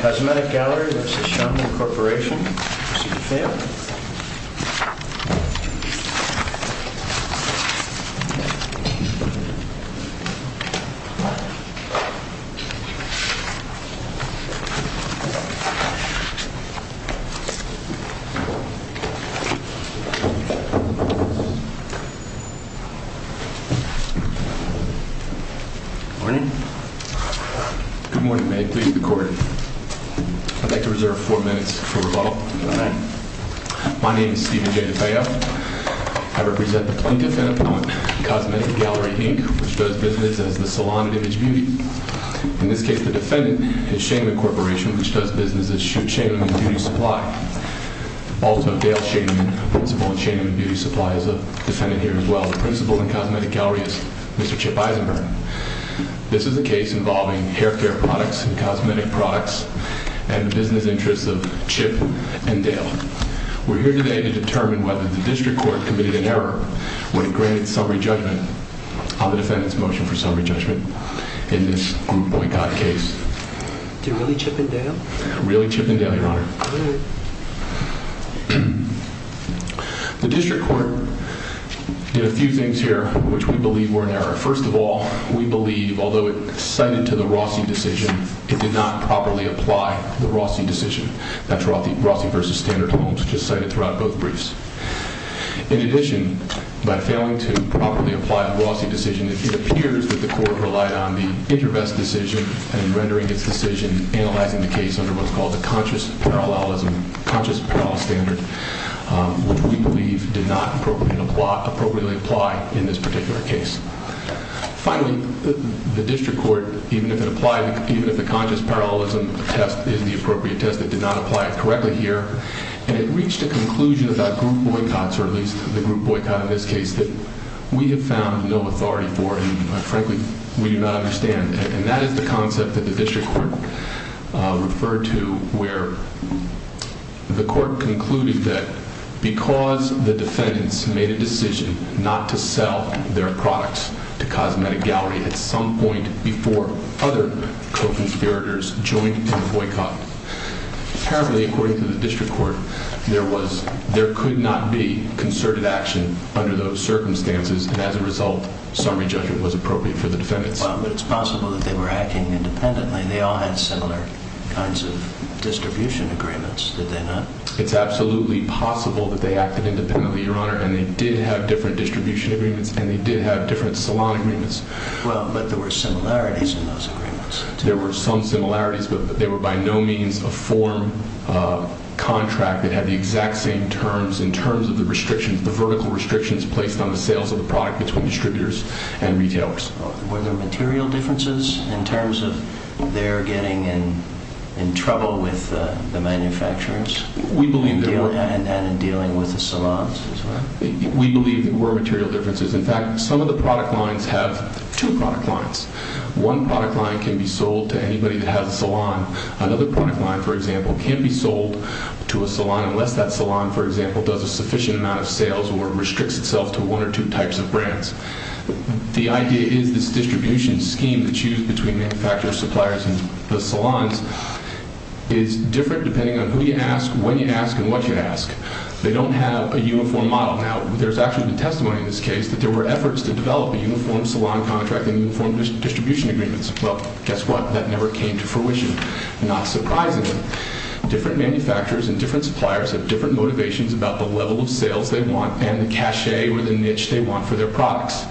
Cosmetic Gallery v. Schoenemann Corp Good morning. Good morning. May it please the Court. I'd like to reserve four minutes for rebuttal. My name is Stephen J. DeFeo. I represent the plaintiff and opponent, Cosmetic Gallery Inc., which does business as the salon of image beauty. In this case, the defendant is Schoenemann Corporation, which does business as Schoenemann Beauty Supply. Also, Dale Schoenemann, principal of Schoenemann Beauty Supply, is a defendant here as well. The principal in Cosmetic Gallery is Mr. Chip Eisenberg. This is a case involving hair care products and cosmetic products and the business interests of Chip and Dale. We're here today to determine whether the district court committed an error when it granted summary judgment on the defendant's motion for summary judgment in this Group Boycott case. Did it really Chip and Dale? It really Chip and Dale, Your Honor. The district court did a few things here which we believe were an error. First of all, we believe, although it cited to the Rossi decision, it did not properly apply the Rossi decision. That's Rossi v. Standard Homes, which is cited throughout both briefs. In addition, by failing to properly apply the Rossi decision, it appears that the court relied on the intervest decision and rendering its decision, analyzing the case under what's called the conscious parallelism, conscious parallel standard, which we believe did not appropriately apply in this particular case. Finally, the district court, even if it applied, even if the conscious parallelism test is the appropriate test, it did not apply it correctly here. And it reached a conclusion about group boycotts, or at least the group boycott in this case, that we have found no authority for and, frankly, we do not understand. And that is the concept that the district court referred to where the court concluded that because the defendants made a decision not to sell their products to Cosmetic Gallery at some point before other co-conspirators joined in the boycott, apparently, according to the district court, there could not be concerted action under those circumstances, and as a result, summary judgment was appropriate for the defendants. Well, but it's possible that they were acting independently. They all had similar kinds of distribution agreements, did they not? It's absolutely possible that they acted independently, Your Honor, and they did have different distribution agreements, and they did have different salon agreements. Well, but there were similarities in those agreements. There were some similarities, but they were by no means a form contract that had the exact same terms in terms of the restrictions, the vertical restrictions placed on the sales of the product between distributors and retailers. Were there material differences in terms of their getting in trouble with the manufacturers? We believe there were. And in dealing with the salons as well? We believe there were material differences. In fact, some of the product lines have two product lines. One product line can be sold to anybody that has a salon. Another product line, for example, can't be sold to a salon unless that salon, for example, does a sufficient amount of sales or restricts itself to one or two types of brands. The idea is this distribution scheme that's used between manufacturers, suppliers, and the salons is different depending on who you ask, when you ask, and what you ask. They don't have a uniform model. Now, there's actually been testimony in this case that there were efforts to develop a uniform salon contract and uniform distribution agreements. Well, guess what? That never came to fruition, not surprisingly. Different manufacturers and different suppliers have different motivations about the level of sales they want and the cachet or the niche they want for their products.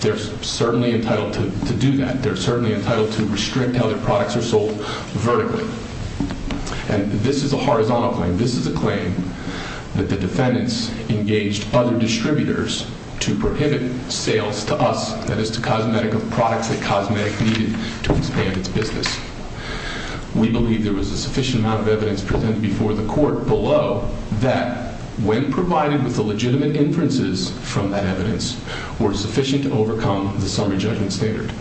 They're certainly entitled to do that. They're certainly entitled to restrict how their products are sold vertically. And this is a horizontal claim. And this is a claim that the defendants engaged other distributors to prohibit sales to us, that is, to Cosmetic, of products that Cosmetic needed to expand its business. We believe there was a sufficient amount of evidence presented before the court below that, when provided with the legitimate inferences from that evidence, were sufficient to overcome the summary judgment standard.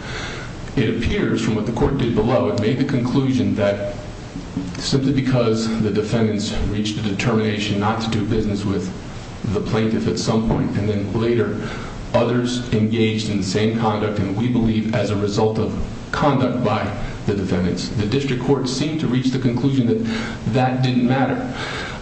It appears, from what the court did below, it made the conclusion that simply because the defendants reached a determination not to do business with the plaintiff at some point, and then later others engaged in the same conduct, and we believe as a result of conduct by the defendants, the district court seemed to reach the conclusion that that didn't matter.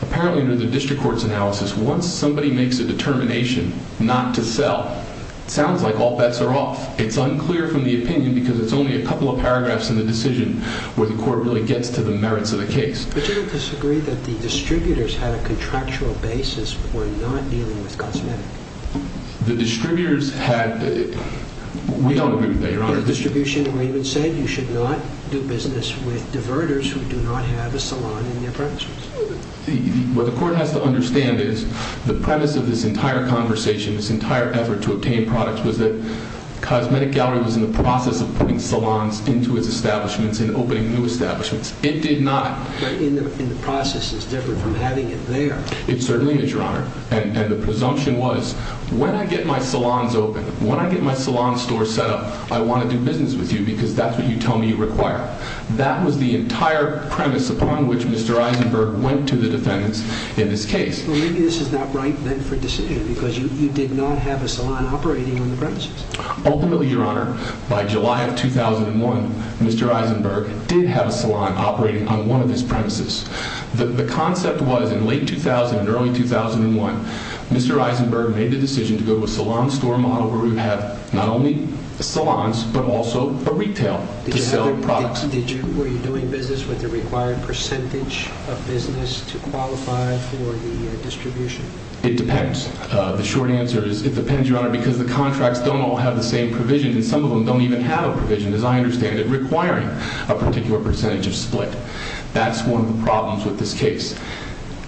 Apparently, under the district court's analysis, once somebody makes a determination not to sell, it sounds like all bets are off. It's unclear from the opinion because it's only a couple of paragraphs in the decision where the court really gets to the merits of the case. But you don't disagree that the distributors had a contractual basis for not dealing with Cosmetic? The distributors had – we don't agree with that, Your Honor. The distribution agreement said you should not do business with diverters who do not have a salon in their premises. What the court has to understand is the premise of this entire conversation, this entire effort to obtain products, was that Cosmetic Gallery was in the process of putting salons into its establishments and opening new establishments. It did not – But in the process, it's different from having it there. It certainly is, Your Honor. And the presumption was, when I get my salons open, when I get my salon store set up, I want to do business with you because that's what you tell me you require. That was the entire premise upon which Mr. Eisenberg went to the defendants in this case. Well, maybe this is not right then for a decision because you did not have a salon operating on the premises. Ultimately, Your Honor, by July of 2001, Mr. Eisenberg did have a salon operating on one of his premises. The concept was, in late 2000 and early 2001, Mr. Eisenberg made the decision to go to a salon store model where we would have not only salons but also a retail to sell products. Were you doing business with the required percentage of business to qualify for the distribution? It depends. The short answer is it depends, Your Honor, because the contracts don't all have the same provision, and some of them don't even have a provision, as I understand it, requiring a particular percentage of split. That's one of the problems with this case.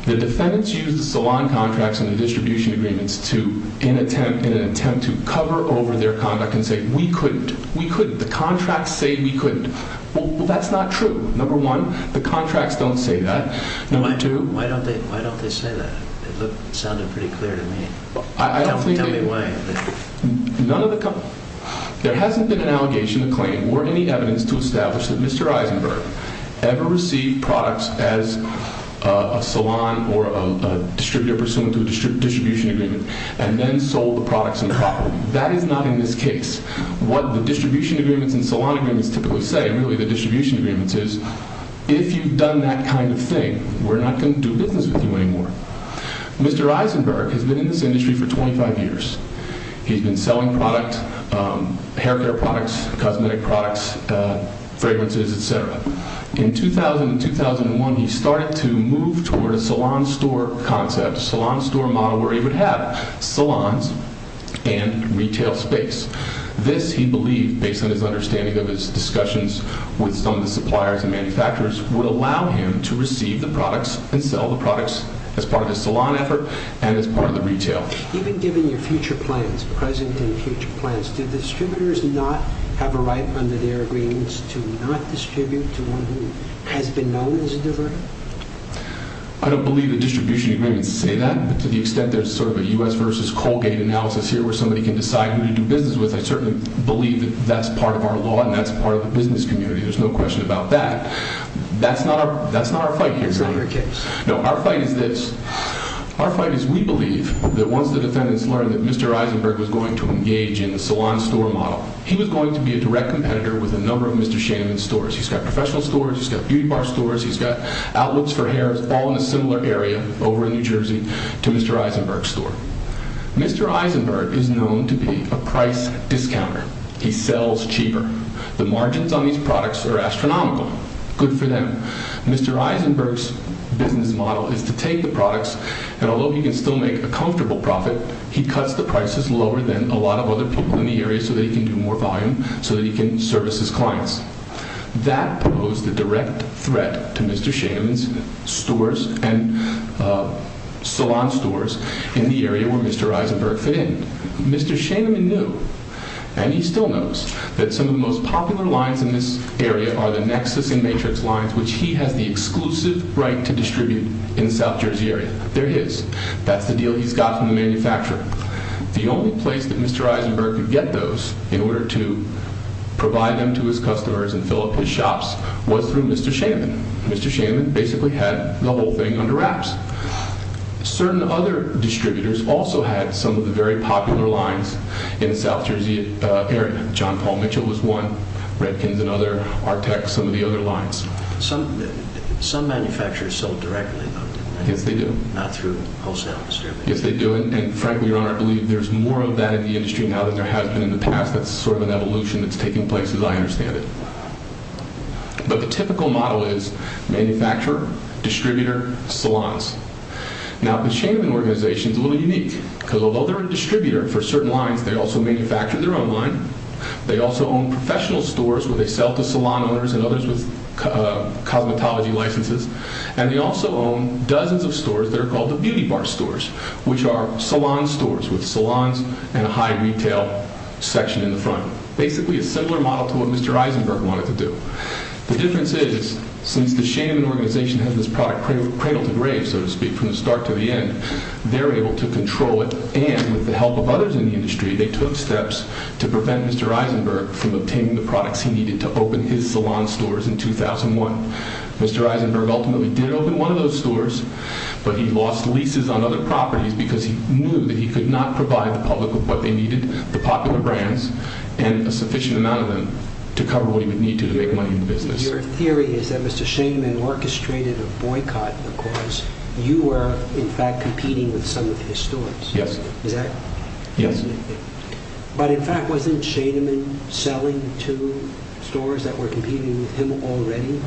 The defendants used the salon contracts and the distribution agreements in an attempt to cover over their conduct and say, we couldn't. We couldn't. The contracts say we couldn't. Well, that's not true. Number one, the contracts don't say that. Why don't they say that? It sounded pretty clear to me. Tell me why. There hasn't been an allegation, a claim, or any evidence to establish that Mr. Eisenberg ever received products as a salon or a distributor pursuant to a distribution agreement and then sold the products improperly. That is not in this case. What the distribution agreements and salon agreements typically say, really the distribution agreements, is if you've done that kind of thing, we're not going to do business with you anymore. Mr. Eisenberg has been in this industry for 25 years. He's been selling hair care products, cosmetic products, fragrances, et cetera. In 2000 and 2001, he started to move toward a salon store concept, a salon store model, where he would have salons and retail space. This, he believed, based on his understanding of his discussions with some of the suppliers and manufacturers, would allow him to receive the products and sell the products as part of his salon effort and as part of the retail. Even given your future plans, present and future plans, do distributors not have a right under their agreements to not distribute to one who has been known as a diverter? I don't believe the distribution agreements say that. To the extent there's sort of a U.S. versus Colgate analysis here where somebody can decide who to do business with, I certainly believe that that's part of our law and that's part of the business community. There's no question about that. That's not our fight here, really. No, our fight is this. Our fight is we believe that once the defendants learned that Mr. Eisenberg was going to engage in the salon store model, he was going to be a direct competitor with a number of Mr. Shannon's stores. He's got professional stores. He's got beauty bar stores. He's got outlets for hair all in a similar area over in New Jersey to Mr. Eisenberg's store. Mr. Eisenberg is known to be a price discounter. He sells cheaper. The margins on these products are astronomical. Good for them. Mr. Eisenberg's business model is to take the products, and although he can still make a comfortable profit, he cuts the prices lower than a lot of other people in the area so that he can do more volume, so that he can service his clients. That posed a direct threat to Mr. Shannon's stores and salon stores in the area where Mr. Eisenberg fit in. Mr. Shannon knew, and he still knows, that some of the most popular lines in this area are the Nexus and Matrix lines, which he has the exclusive right to distribute in the South Jersey area. They're his. That's the deal he's got from the manufacturer. The only place that Mr. Eisenberg could get those in order to provide them to his customers and fill up his shops was through Mr. Shannon. Mr. Shannon basically had the whole thing under wraps. Certain other distributors also had some of the very popular lines in the South Jersey area. John Paul Mitchell was one. Redkins and other, Artec, some of the other lines. Some manufacturers sold directly, though. Yes, they do. Not through wholesale distribution. Yes, they do. Frankly, Your Honor, I believe there's more of that in the industry now than there has been in the past. That's sort of an evolution that's taking place as I understand it. But the typical model is manufacturer, distributor, salons. Now, the Shannon organization is a little unique. Although they're a distributor for certain lines, they also manufacture their own line. They also own professional stores where they sell to salon owners and others with cosmetology licenses. And they also own dozens of stores that are called the beauty bar stores, which are salon stores with salons and a high retail section in the front. Basically a similar model to what Mr. Eisenberg wanted to do. The difference is since the Shannon organization has this product cradle to grave, so to speak, from the start to the end, they're able to control it. And with the help of others in the industry, they took steps to prevent Mr. Eisenberg from obtaining the products he needed to open his salon stores in 2001. Mr. Eisenberg ultimately did open one of those stores, but he lost leases on other properties because he knew that he could not provide the public with what they needed, the popular brands, and a sufficient amount of them to cover what he would need to to make money in the business. Your theory is that Mr. Shainman orchestrated a boycott because you were, in fact, competing with some of his stores. Yes. Is that correct? Yes. But, in fact, wasn't Shainman selling to stores that were competing with him already?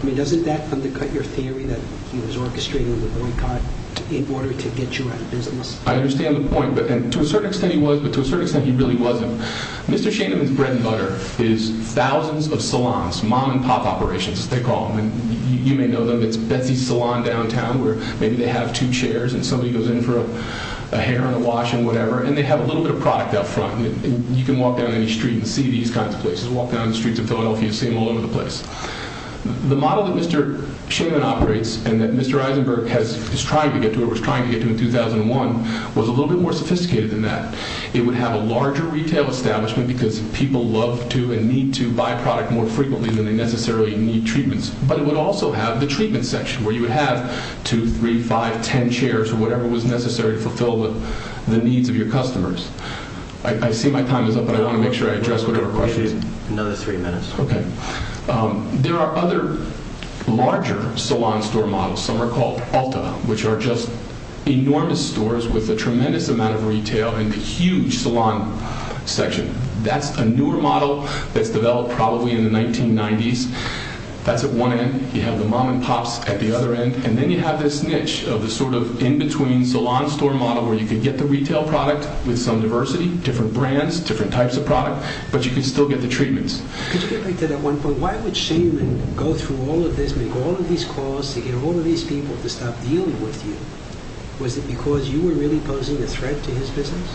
I mean, doesn't that undercut your theory that he was orchestrating the boycott in order to get you out of business? I understand the point, and to a certain extent he was, but to a certain extent he really wasn't. Mr. Shainman's bread and butter is thousands of salons, mom-and-pop operations, as they call them. You may know them. It's Betsy's Salon downtown where maybe they have two chairs and somebody goes in for a hair and a wash and whatever, and they have a little bit of product out front. You can walk down any street and see these kinds of places. Walk down the streets of Philadelphia, you'll see them all over the place. The model that Mr. Shainman operates and that Mr. Eisenberg was trying to get to in 2001 was a little bit more sophisticated than that. It would have a larger retail establishment because people love to and need to buy product more frequently than they necessarily need treatments, but it would also have the treatment section where you would have 2, 3, 5, 10 chairs or whatever was necessary to fulfill the needs of your customers. I see my time is up, but I want to make sure I address whatever questions. Another three minutes. Okay. There are other larger salon store models. Some are called Alta, which are just enormous stores with a tremendous amount of retail and a huge salon section. That's a newer model that's developed probably in the 1990s. That's at one end. You have the mom and pops at the other end, and then you have this niche of the sort of in-between salon store model where you can get the retail product with some diversity, different brands, different types of product, but you can still get the treatments. Could you get back to that one point? Why would Shainman go through all of this, make all of these calls to get all of these people to stop dealing with you? Was it because you were really posing a threat to his business?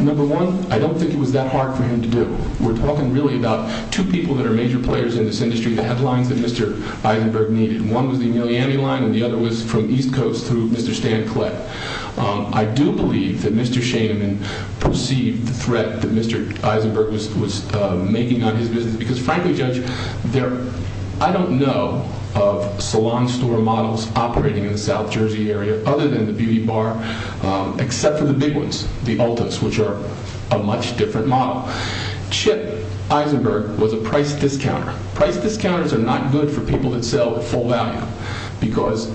Number one, I don't think it was that hard for him to do. We're talking really about two people that are major players in this industry, the headlines that Mr. Eisenberg needed. One was the Emiliani line, and the other was from East Coast through Mr. Stan Klett. I do believe that Mr. Shainman perceived the threat that Mr. Eisenberg was making on his business because, frankly, Judge, I don't know of salon store models operating in the South Jersey area other than the Beauty Bar, except for the big ones, the Ultas, which are a much different model. Chip Eisenberg was a price discounter. Price discounters are not good for people that sell at full value because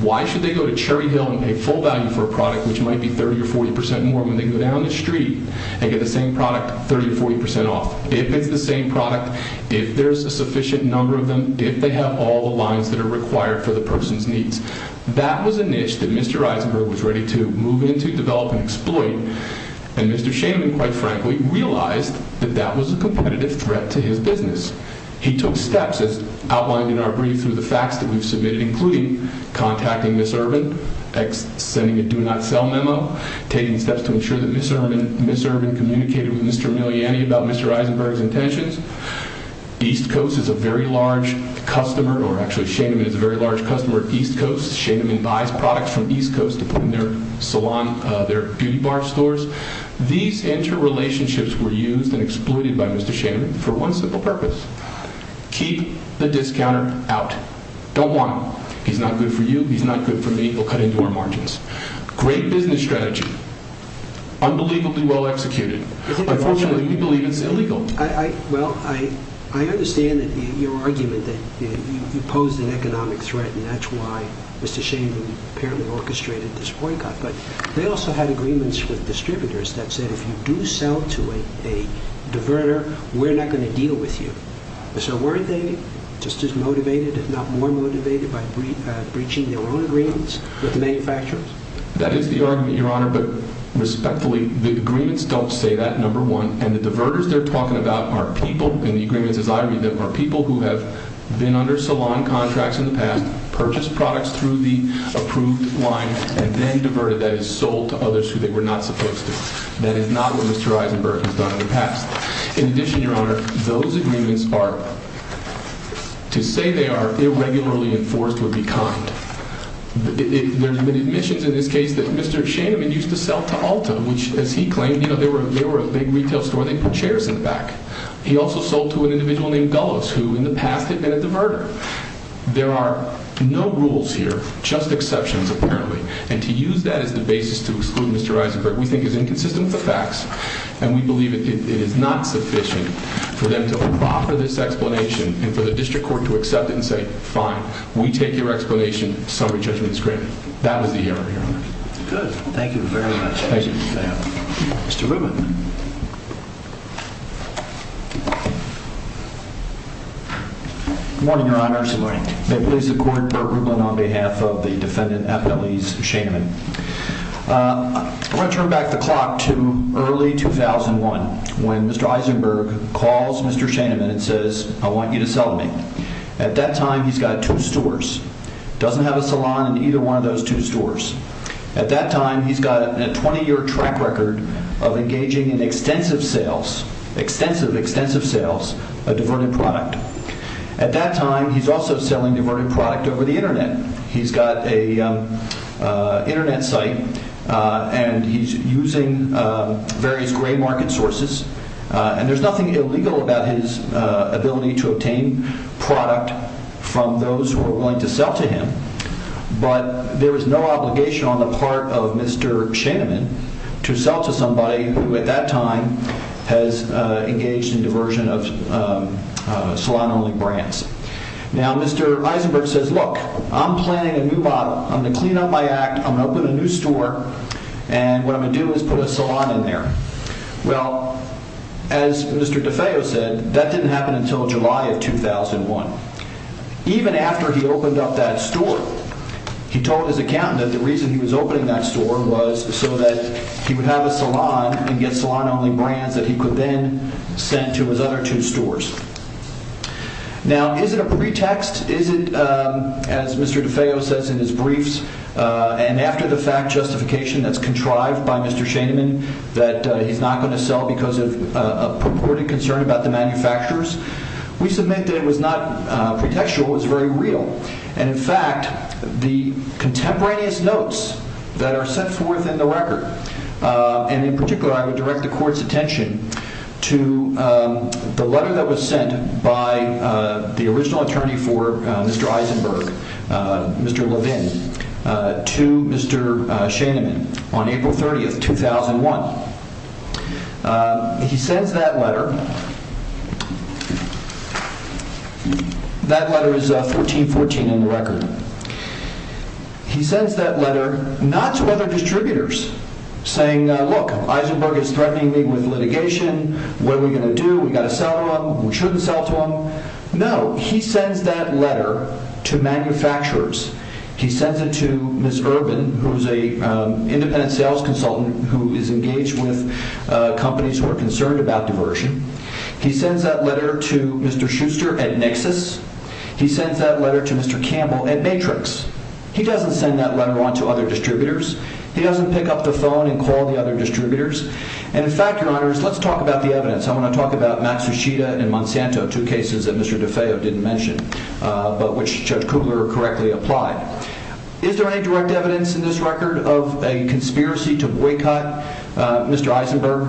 why should they go to Cherry Hill and pay full value for a product which might be 30% or 40% more when they go down the street and get the same product 30% or 40% off? If it's the same product, if there's a sufficient number of them, if they have all the lines that are required for the person's needs, that was a niche that Mr. Eisenberg was ready to move into, develop, and exploit, and Mr. Shainman, quite frankly, realized that that was a competitive threat to his business. He took steps as outlined in our brief through the facts that we've submitted, including contacting Ms. Urban, sending a do-not-sell memo, taking steps to ensure that Ms. Urban communicated with Mr. Emiliani about Mr. Eisenberg's intentions. East Coast is a very large customer, or actually Shainman is a very large customer of East Coast. Shainman buys products from East Coast to put in their beauty bar stores. These interrelationships were used and exploited by Mr. Shainman for one simple purpose. Keep the discounter out. Don't want him. He's not good for you. He's not good for me. He'll cut into our margins. Great business strategy. Unbelievably well executed. Unfortunately, we believe it's illegal. Well, I understand your argument that you posed an economic threat, and that's why Mr. Shainman apparently orchestrated this boycott, but they also had agreements with distributors that said, if you do sell to a diverter, we're not going to deal with you. So weren't they just as motivated, if not more motivated, by breaching their own agreements with the manufacturers? That is the argument, Your Honor, but respectfully, the agreements don't say that, number one, and the diverters they're talking about are people, and the agreements, as I read them, are people who have been under salon contracts in the past, purchased products through the approved line, and then diverted, that is, sold to others who they were not supposed to. That is not what Mr. Eisenberg has done in the past. In addition, Your Honor, those agreements are, to say they are irregularly enforced would be kind. There have been admissions in this case that Mr. Shainman used to sell to Ulta, which, as he claimed, they were a big retail store, they put chairs in the back. He also sold to an individual named Gullows, who in the past had been a diverter. There are no rules here, just exceptions, apparently, and to use that as the basis to exclude Mr. Eisenberg we think is inconsistent with the facts, and we believe it is not sufficient for them to offer this explanation, and for the district court to accept it and say, fine, we take your explanation, summary judgment is granted. That was the error, Your Honor. Good. Thank you very much. Thank you. Mr. Rubin. Good morning, Your Honor. Good morning. May it please the court, Burt Rubin on behalf of the defendant, Appellee Shainman. I want to turn back the clock to early 2001, when Mr. Eisenberg calls Mr. Shainman and says, I want you to sell to me. At that time, he's got two stores. Doesn't have a salon in either one of those two stores. At that time, he's got a 20-year track record of engaging in extensive sales, extensive, extensive sales, of diverted product. At that time, he's also selling diverted product over the Internet. He's got an Internet site, and he's using various gray market sources, and there's nothing illegal about his ability to obtain product from those who are willing to sell to him, but there is no obligation on the part of Mr. Shainman to sell to somebody who at that time has engaged in diversion of salon-only brands. Now, Mr. Eisenberg says, look, I'm planning a new bottle. I'm going to clean up my act. I'm going to open a new store, and what I'm going to do is put a salon in there. Well, as Mr. DeFeo said, that didn't happen until July of 2001. Even after he opened up that store, he told his accountant that the reason he was opening that store was so that he would have a salon and get salon-only brands that he could then send to his other two stores. Now, is it a pretext? Is it, as Mr. DeFeo says in his briefs, and after the fact justification that's contrived by Mr. Shainman, that he's not going to sell because of purported concern about the manufacturers, we submit that it was not pretextual. It was very real. In fact, the contemporaneous notes that are set forth in the record, and in particular I would direct the Court's attention to the letter that was sent by the original attorney for Mr. Eisenberg, Mr. Levin, to Mr. Shainman on April 30th, 2001. He sends that letter. That letter is 1414 in the record. He sends that letter not to other distributors, saying, look, Eisenberg is threatening me with litigation. What are we going to do? We've got to sell to him. We shouldn't sell to him. No, he sends that letter to manufacturers. He sends it to Ms. Urban, who is an independent sales consultant who is engaged with companies who are concerned about diversion. He sends that letter to Mr. Schuster at Nixus. He sends that letter to Mr. Campbell at Matrix. He doesn't send that letter on to other distributors. He doesn't pick up the phone and call the other distributors. And in fact, Your Honors, let's talk about the evidence. I want to talk about Max Ruschita and Monsanto, two cases that Mr. DeFeo didn't mention, but which Judge Kugler correctly applied. Is there any direct evidence in this record of a conspiracy to boycott Mr. Eisenberg?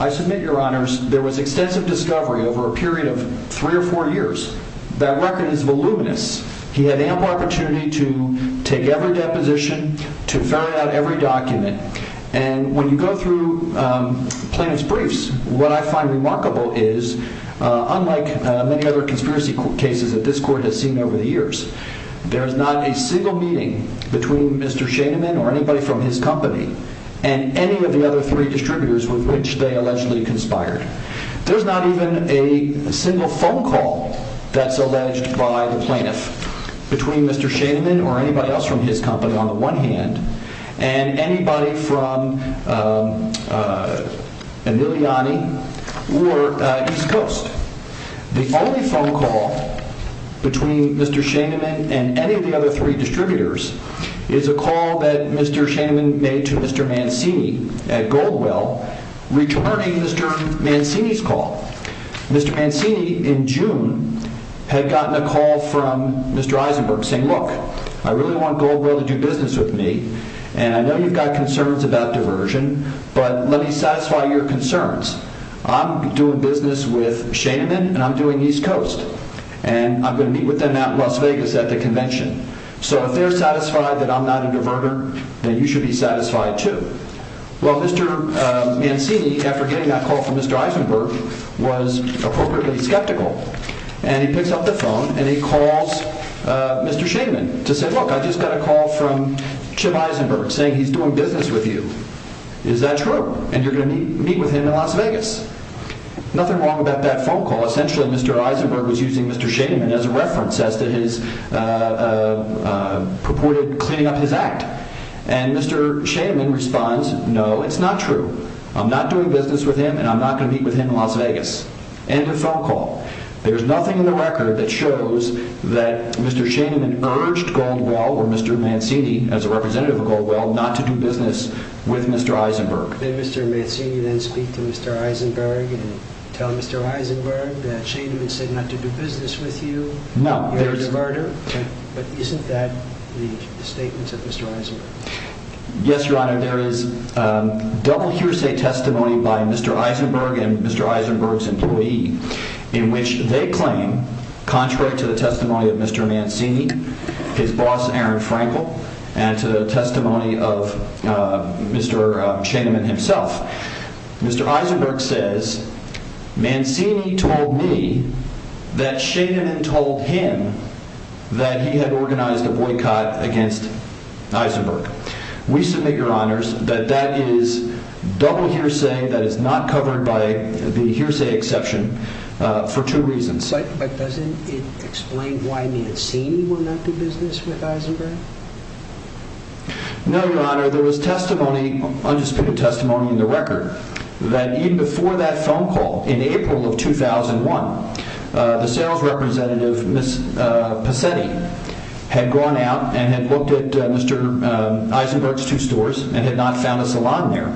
I submit, Your Honors, there was extensive discovery over a period of three or four years. That record is voluminous. He had ample opportunity to take every deposition, to ferret out every document. And when you go through plaintiff's briefs, what I find remarkable is, unlike many other conspiracy cases that this Court has seen over the years, there is not a single meeting between Mr. Shainman or anybody from his company and any of the other three distributors with which they allegedly conspired. There's not even a single phone call that's alleged by the plaintiff between Mr. Shainman or anybody else from his company on the one hand and anybody from Emiliani or East Coast. The only phone call between Mr. Shainman and any of the other three distributors is a call that Mr. Shainman made to Mr. Mancini at Goldwell, returning Mr. Mancini's call. Mr. Mancini, in June, had gotten a call from Mr. Eisenberg saying, Hey look, I really want Goldwell to do business with me and I know you've got concerns about diversion, but let me satisfy your concerns. I'm doing business with Shainman and I'm doing East Coast and I'm going to meet with them out in Las Vegas at the convention. So if they're satisfied that I'm not a diverter, then you should be satisfied too. Well, Mr. Mancini, after getting that call from Mr. Eisenberg, was appropriately skeptical and he picks up the phone and he calls Mr. Shainman to say, Look, I just got a call from Chip Eisenberg saying he's doing business with you. Is that true? And you're going to meet with him in Las Vegas? Nothing wrong about that phone call. Essentially, Mr. Eisenberg was using Mr. Shainman as a reference as to his purported cleaning up his act. And Mr. Shainman responds, No, it's not true. I'm not doing business with him and I'm not going to meet with him in Las Vegas. End of phone call. There's nothing in the record that shows that Mr. Shainman urged Goldwell or Mr. Mancini, as a representative of Goldwell, not to do business with Mr. Eisenberg. Did Mr. Mancini then speak to Mr. Eisenberg and tell Mr. Eisenberg that Shainman said not to do business with you? No. You're a diverter? But isn't that the statement of Mr. Eisenberg? Yes, Your Honor, there is double hearsay testimony by Mr. Eisenberg and Mr. Eisenberg's employee in which they claim, contrary to the testimony of Mr. Mancini, his boss Aaron Frankel, and to the testimony of Mr. Shainman himself, Mr. Eisenberg says, Mancini told me that Shainman told him that he had organized a boycott against Eisenberg. We submit, Your Honors, that that is double hearsay. That is not covered by the hearsay exception for two reasons. But doesn't it explain why Mancini will not do business with Eisenberg? No, Your Honor, there was testimony, undisputed testimony in the record that even before that phone call, in April of 2001, the sales representative, Ms. Pesetti, had gone out and had looked at Mr. Eisenberg's two stores and had not found a salon there.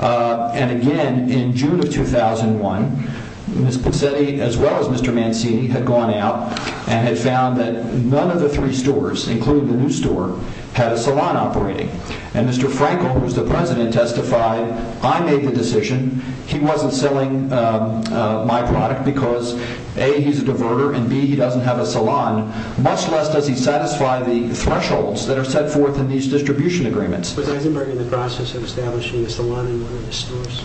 And again, in June of 2001, Ms. Pesetti, as well as Mr. Mancini, had gone out and had found that none of the three stores, including the new store, had a salon operating. And Mr. Frankel, who is the President, testified, I made the decision. He wasn't selling my product because, A, he's a diverter, and B, he doesn't have a salon. Much less does he satisfy the thresholds that are set forth in these distribution agreements. Was Eisenberg in the process of establishing a salon in one of the stores?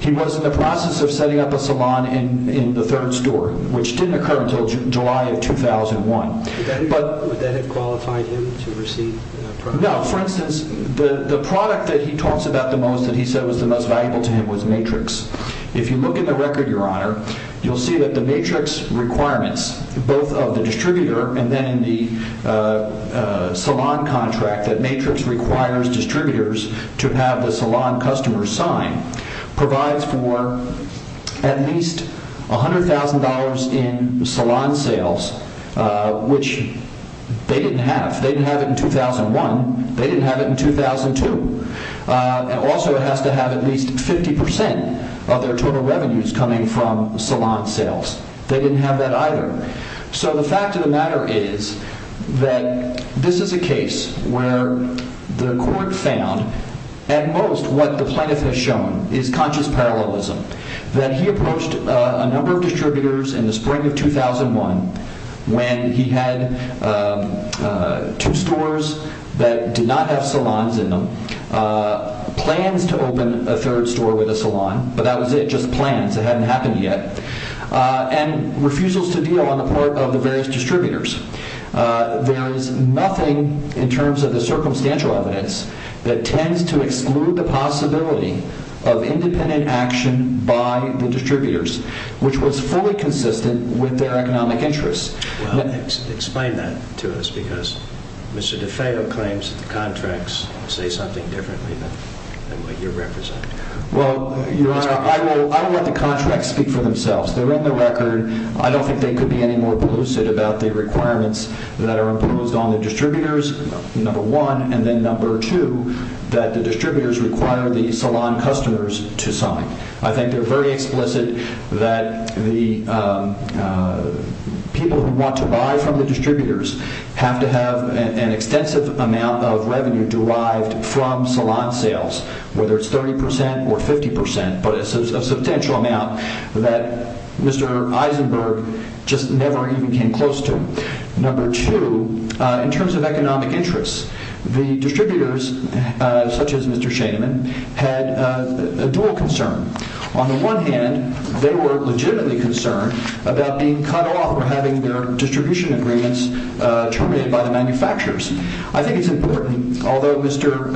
He was in the process of setting up a salon in the third store, which didn't occur until July of 2001. Would that have qualified him to receive a product? No. For instance, the product that he talks about the most, that he said was the most valuable to him, was Matrix. If you look at the record, Your Honor, you'll see that the Matrix requirements, both of the distributor and then in the salon contract, that Matrix requires distributors to have the salon customer sign, provides for at least $100,000 in salon sales, which they didn't have. They didn't have it in 2001. They didn't have it in 2002. And also it has to have at least 50% of their total revenues coming from salon sales. They didn't have that either. So the fact of the matter is that this is a case where the court found, at most what the plaintiff has shown is conscious parallelism, that he approached a number of distributors in the spring of 2001 when he had two stores that did not have salons in them, plans to open a third store with a salon, but that was it, just plans. It hadn't happened yet, and refusals to deal on the part of the various distributors. There is nothing in terms of the circumstantial evidence that tends to exclude the possibility of independent action by the distributors, which was fully consistent with their economic interests. Well, explain that to us, because Mr. DeFeo claims the contracts say something differently than what you represent. Well, Your Honor, I will let the contracts speak for themselves. They're in the record. I don't think they could be any more elusive about the requirements that are imposed on the distributors, number one, and then number two, that the distributors require the salon customers to sign. I think they're very explicit that the people who want to buy from the distributors have to have an extensive amount of revenue derived from salon sales, whether it's 30% or 50%, but a substantial amount that Mr. Eisenberg just never even came close to. Number two, in terms of economic interests, the distributors, such as Mr. Shainman, had a dual concern. On the one hand, they were legitimately concerned about being cut off or having their distribution agreements terminated by the manufacturers. I think it's important, although Mr.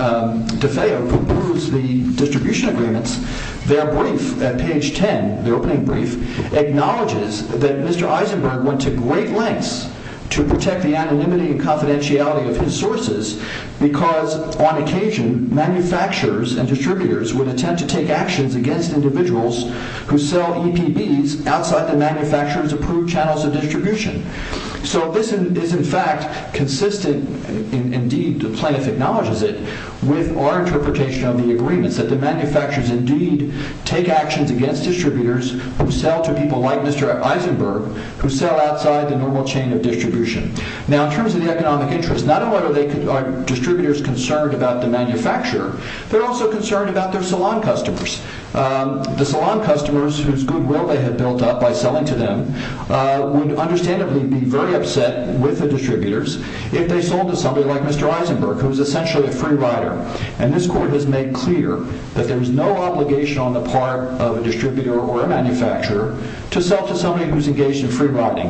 DeFeo approves the distribution agreements, their brief at page 10, their opening brief, acknowledges that Mr. Eisenberg went to great lengths to protect the anonymity and confidentiality of his sources because, on occasion, manufacturers and distributors would intend to take actions against individuals who sell EPBs outside the manufacturer's approved channels of distribution. So this is, in fact, consistent, indeed, the plaintiff acknowledges it, with our interpretation of the agreements, that the manufacturers indeed take actions against distributors who sell to people like Mr. Eisenberg, who sell outside the normal chain of distribution. Now, in terms of the economic interests, not only are distributors concerned about the manufacturer, they're also concerned about their salon customers. The salon customers, whose goodwill they had built up by selling to them, would understandably be very upset with the distributors if they sold to somebody like Mr. Eisenberg, who is essentially a free rider. And this court has made clear that there is no obligation on the part of a distributor or a manufacturer to sell to somebody who's engaged in free riding.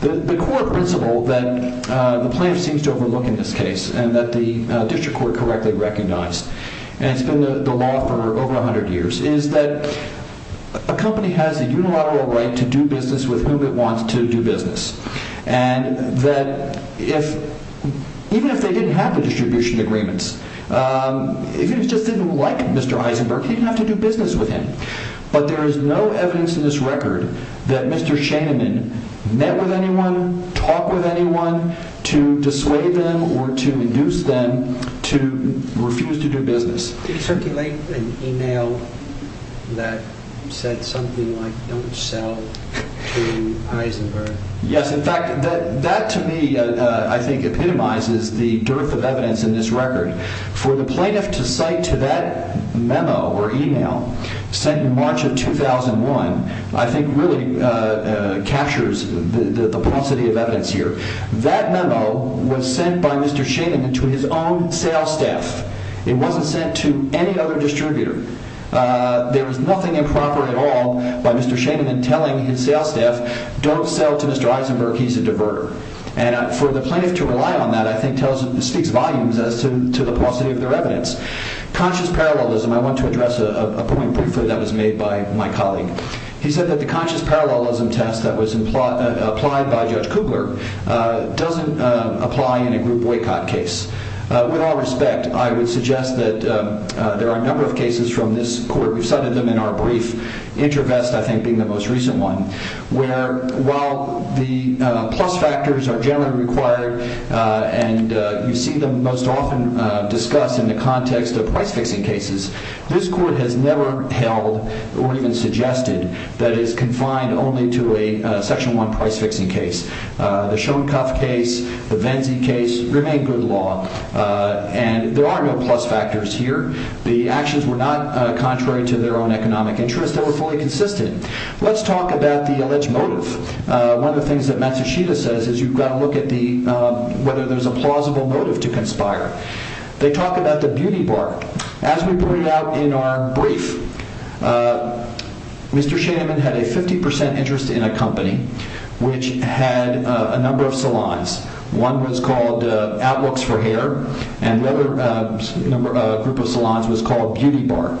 The core principle that the plaintiff seems to overlook in this case, and that the district court correctly recognized, and it's been the law for over 100 years, is that a company has a unilateral right to do business with whom it wants to do business. And that even if they didn't have the distribution agreements, if it just didn't like Mr. Eisenberg, he didn't have to do business with him. But there is no evidence in this record that Mr. Shaneman met with anyone, talked with anyone to dissuade them or to induce them to refuse to do business. Did you circulate an email that said something like, don't sell to Eisenberg? Yes, in fact, that to me, I think, epitomizes the dearth of evidence in this record. For the plaintiff to cite to that memo or email, sent in March of 2001, I think really captures the paucity of evidence here. That memo was sent by Mr. Shaneman to his own sales staff. It wasn't sent to any other distributor. There was nothing improper at all by Mr. Shaneman telling his sales staff, don't sell to Mr. Eisenberg, he's a diverter. And for the plaintiff to rely on that, I think, speaks volumes as to the paucity of their evidence. Conscious parallelism, I want to address a point briefly that was made by my colleague. He said that the conscious parallelism test that was applied by Judge Kubler doesn't apply in a group boycott case. With all respect, I would suggest that there are a number of cases from this court, we've cited them in our brief, InterVest, I think, being the most recent one, where while the plus factors are generally required and you see them most often discussed in the context of price-fixing cases, this court has never held or even suggested that it is confined only to a Section 1 price-fixing case. The Schoenkopf case, the Venzi case remain good law. And there are no plus factors here. The actions were not contrary to their own economic interests. They were fully consistent. Let's talk about the alleged motive. One of the things that Matsushita says is you've got to look at whether there's a plausible motive to conspire. They talk about the beauty bar. As we pointed out in our brief, Mr. Shaneman had a 50% interest in a company which had a number of salons. One was called Outlooks for Hair and another group of salons was called Beauty Bar.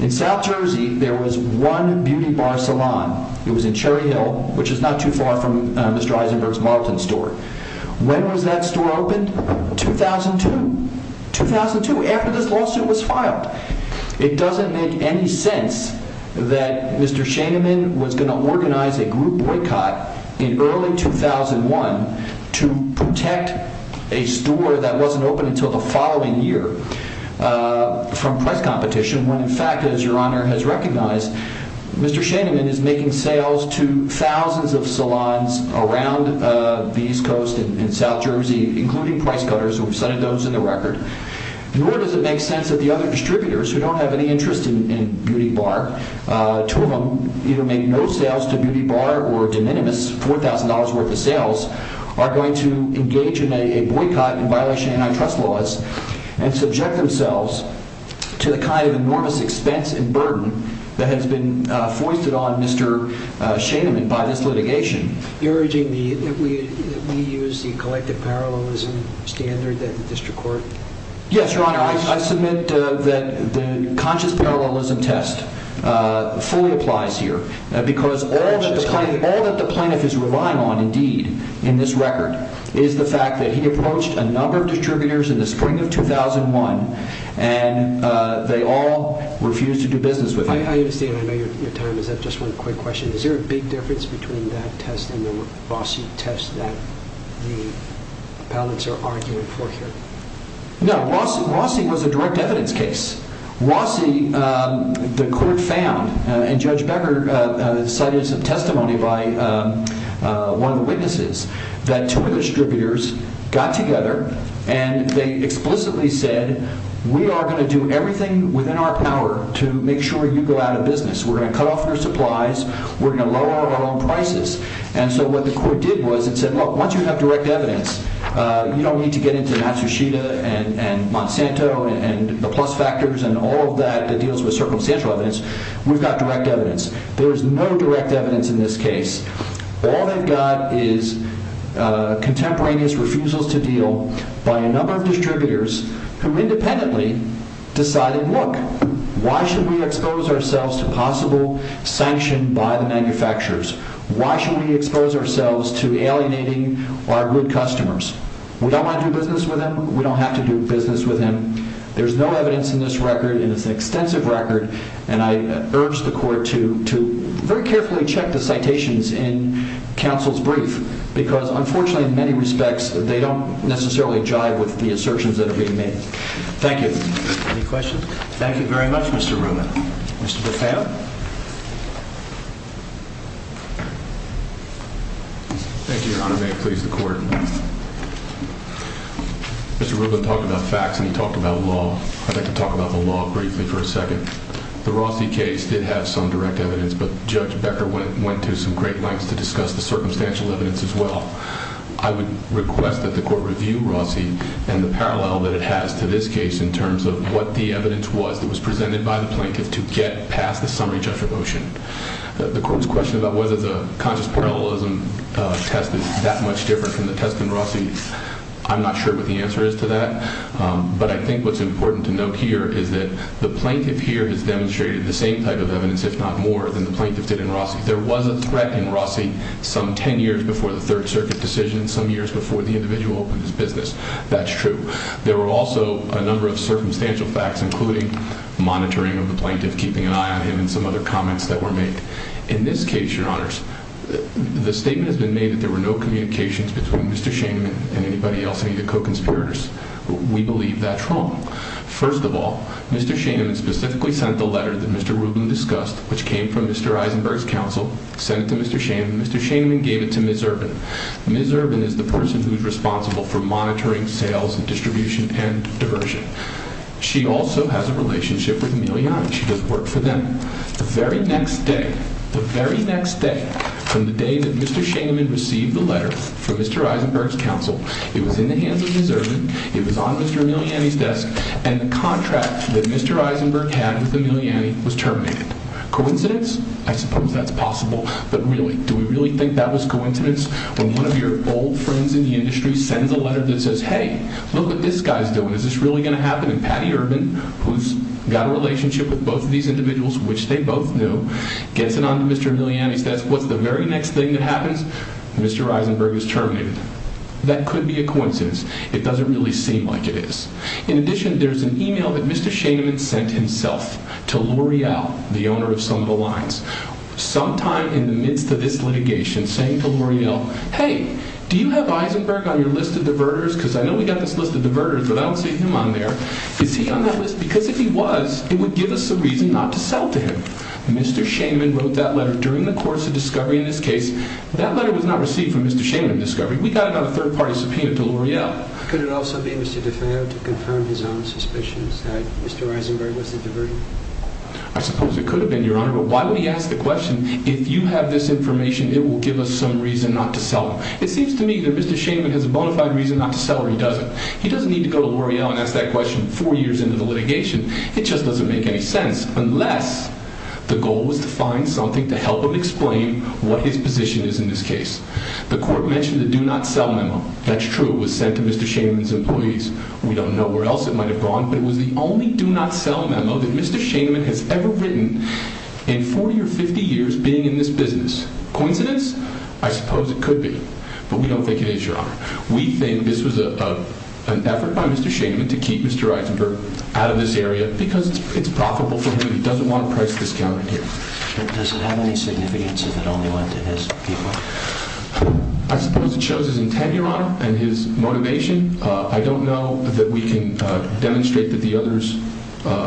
In South Jersey, there was one Beauty Bar salon. It was in Cherry Hill, which is not too far from Mr. Eisenberg's Marlton store. When was that store opened? 2002. 2002, after this lawsuit was filed. It doesn't make any sense that Mr. Shaneman was going to organize a group boycott in early 2001 to protect a store that wasn't open until the following year from price competition when, in fact, as Your Honor has recognized, Mr. Shaneman is making sales to thousands of salons around the East Coast and South Jersey, including Price Cutters. We've cited those in the record. Nor does it make sense that the other distributors, who don't have any interest in Beauty Bar, two of them either make no sales to Beauty Bar or de minimis $4,000 worth of sales, are going to engage in a boycott in violation of antitrust laws and subject themselves to the kind of enormous expense and burden that has been foisted on Mr. Shaneman by this litigation. You're urging me that we use the collective parallelism standard that the district court... Yes, Your Honor. I submit that the conscious parallelism test fully applies here because all that the plaintiff is relying on, indeed, in this record is the fact that he approached a number of distributors in the spring of 2001 and they all refused to do business with him. I understand. I know your time is up. Just one quick question. Is there a big difference between that test and the Rossi test that the appellants are arguing for here? No. Rossi was a direct evidence case. Rossi, the court found, and Judge Becker cited some testimony by one of the witnesses, that two of the distributors got together and they explicitly said, we are going to do everything within our power to make sure you go out of business. We're going to cut off your supplies. We're going to lower our own prices. And so what the court did was it said, look, once you have direct evidence, you don't need to get into Matsushita and Monsanto and the plus factors and all of that that deals with circumstantial evidence. We've got direct evidence. There is no direct evidence in this case. All they've got is contemporaneous refusals to deal by a number of distributors who independently decided, look, why should we expose ourselves to possible sanction by the manufacturers? Why should we expose ourselves to alienating our good customers? We don't want to do business with them. We don't have to do business with them. There's no evidence in this record and it's an extensive record. And I urge the court to very carefully check the citations in counsel's brief, because unfortunately, in many respects, they don't necessarily jive with the assertions that are being made. Thank you. Any questions? Thank you very much, Mr. Rubin. Mr. Bethea. Thank you, Your Honor. May it please the court. Mr. Rubin talked about facts and he talked about law. I'd like to talk about the law briefly for a second. The Rossi case did have some direct evidence, but Judge Becker went to some great lengths to discuss the circumstantial evidence as well. I would request that the court review Rossi and the parallel that it has to this case in terms of what the evidence was that was presented by the plaintiff to get past the summary judgment motion. The court's question about whether the conscious parallelism test is that much different from the test in Rossi, I'm not sure what the answer is to that. But I think what's important to note here is that the plaintiff here has demonstrated the same type of evidence, if not more, than the plaintiff did in Rossi. There was a threat in Rossi some 10 years before the Third Circuit decision, some years before the individual opened his business. That's true. There were also a number of circumstantial facts, including monitoring of the plaintiff, keeping an eye on him, and some other comments that were made. In this case, Your Honors, the statement has been made that there were no communications between Mr. Shainman and anybody else, any of the co-conspirators. We believe that's wrong. First of all, Mr. Shainman specifically sent the letter that Mr. Rubin discussed, which came from Mr. Eisenberg's counsel, sent it to Mr. Shainman. Mr. Shainman gave it to Ms. Urban. Ms. Urban is the person who's responsible for monitoring sales and distribution and diversion. She also has a relationship with Emiliani. She does work for them. The very next day, the very next day, from the day that Mr. Shainman received the letter from Mr. Eisenberg's counsel, it was in the hands of Ms. Urban, it was on Mr. Emiliani's desk, and the contract that Mr. Eisenberg had with Emiliani was terminated. Coincidence? I suppose that's possible. But really, do we really think that was coincidence? When one of your old friends in the industry sends a letter that says, hey, look what this guy's doing, is this really going to happen? And Patty Urban, who's got a relationship with both of these individuals, which they both knew, gets it on to Mr. Emiliani's desk. What's the very next thing that happens? Mr. Eisenberg is terminated. That could be a coincidence. It doesn't really seem like it is. In addition, there's an email that Mr. Shainman sent himself to L'Oreal, the owner of Sunville Lines, sometime in the midst of this litigation, saying to L'Oreal, hey, do you have Eisenberg on your list of diverters? Because I know we've got this list of diverters, but I don't see him on there. Is he on that list? Because if he was, it would give us a reason not to sell to him. Mr. Shainman wrote that letter during the course of discovery in this case. That letter was not received from Mr. Shainman in discovery. We got it on a third-party subpoena to L'Oreal. Could it also be Mr. de Feo to confirm his own suspicions that Mr. Eisenberg was the diverter? I suppose it could have been, Your Honor, but why would he ask the question, if you have this information, it will give us some reason not to sell him? It seems to me that Mr. Shainman has a bona fide reason not to sell or he doesn't. He doesn't need to go to L'Oreal and ask that question four years into the litigation. It just doesn't make any sense unless the goal was to find something to help him explain what his position is in this case. The court mentioned the do-not-sell memo. That's true. It was sent to Mr. Shainman's employees. We don't know where else it might have gone, but it was the only do-not-sell memo that Mr. Shainman has ever written in 40 or 50 years being in this business. Coincidence? I suppose it could be, but we don't think it is, Your Honor. We think this was an effort by Mr. Shainman to keep Mr. Eisenberg out of this area because it's profitable for him. He doesn't want a price discount in here. Does it have any significance if it only went to his people? I suppose it shows his intent, Your Honor, and his motivation. I don't know that we can demonstrate that the others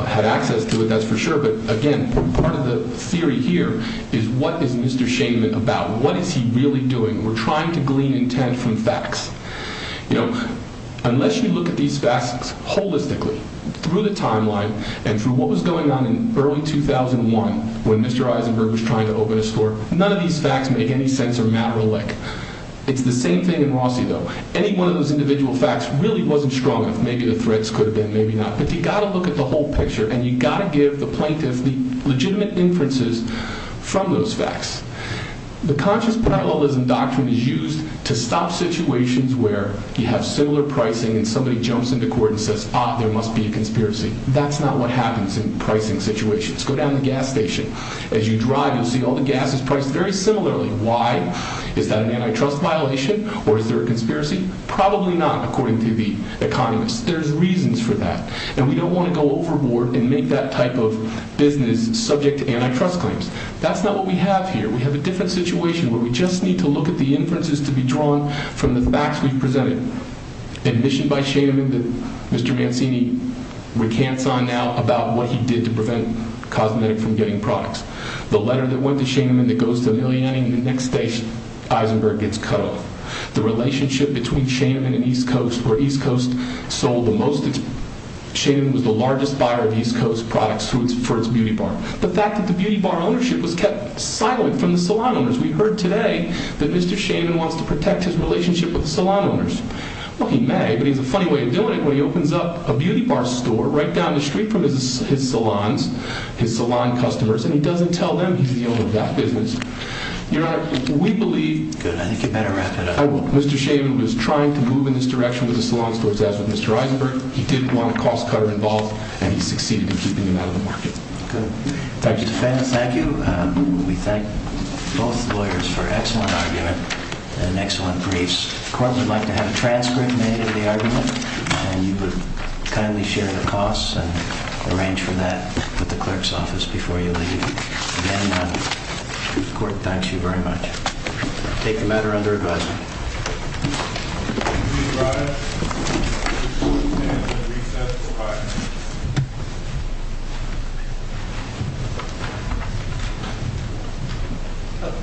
had access to it, that's for sure, but again, part of the theory here is what is Mr. Shainman about? What is he really doing? We're trying to glean intent from facts. Unless you look at these facts holistically, through the timeline and through what was going on in early 2001 when Mr. Eisenberg was trying to open a store, none of these facts make any sense or matter alike. It's the same thing in Rossi, though. Any one of those individual facts really wasn't strong enough. Maybe the threats could have been, maybe not, but you've got to look at the whole picture and you've got to give the plaintiffs the legitimate inferences from those facts. The conscious parallelism doctrine is used to stop situations where you have similar pricing and somebody jumps into court and says, ah, there must be a conspiracy. That's not what happens in pricing situations. Go down the gas station. As you drive, you'll see all the gas is priced very similarly. Why? Is that an antitrust violation or is there a conspiracy? Probably not, according to the economists. There's reasons for that, and we don't want to go overboard and make that type of business subject to antitrust claims. That's not what we have here. We have a different situation where we just need to look at the inferences to be drawn from the facts we've presented. Admission by Shainman that Mr. Mancini recants on now about what he did to prevent Cosmetic from getting products. The letter that went to Shainman that goes to Liliani, the next day Eisenberg gets cut off. The relationship between Shainman and East Coast, where East Coast sold the most. Shainman was the largest buyer of East Coast products for its beauty bar. The fact that the beauty bar ownership was kept silent from the salon owners. We heard today that Mr. Shainman wants to protect his relationship with the salon owners. Well, he may, but he has a funny way of doing it when he opens up a beauty bar store right down the street from his salons, his salon customers, and he doesn't tell them he's the owner of that business. Your Honor, we believe Mr. Shainman was trying to move in this direction with the salon stores, as with Mr. Eisenberg. He didn't want a cost cutter involved, and he succeeded in keeping him out of the market. Thank you. Thank you. We thank both lawyers for an excellent argument and excellent briefs. The court would like to have a transcript made of the argument, and you would kindly share the costs and arrange for that with the clerk's office before you leave. Again, the court thanks you very much. Take the matter under advisement. Please rise and stand for the recess prior.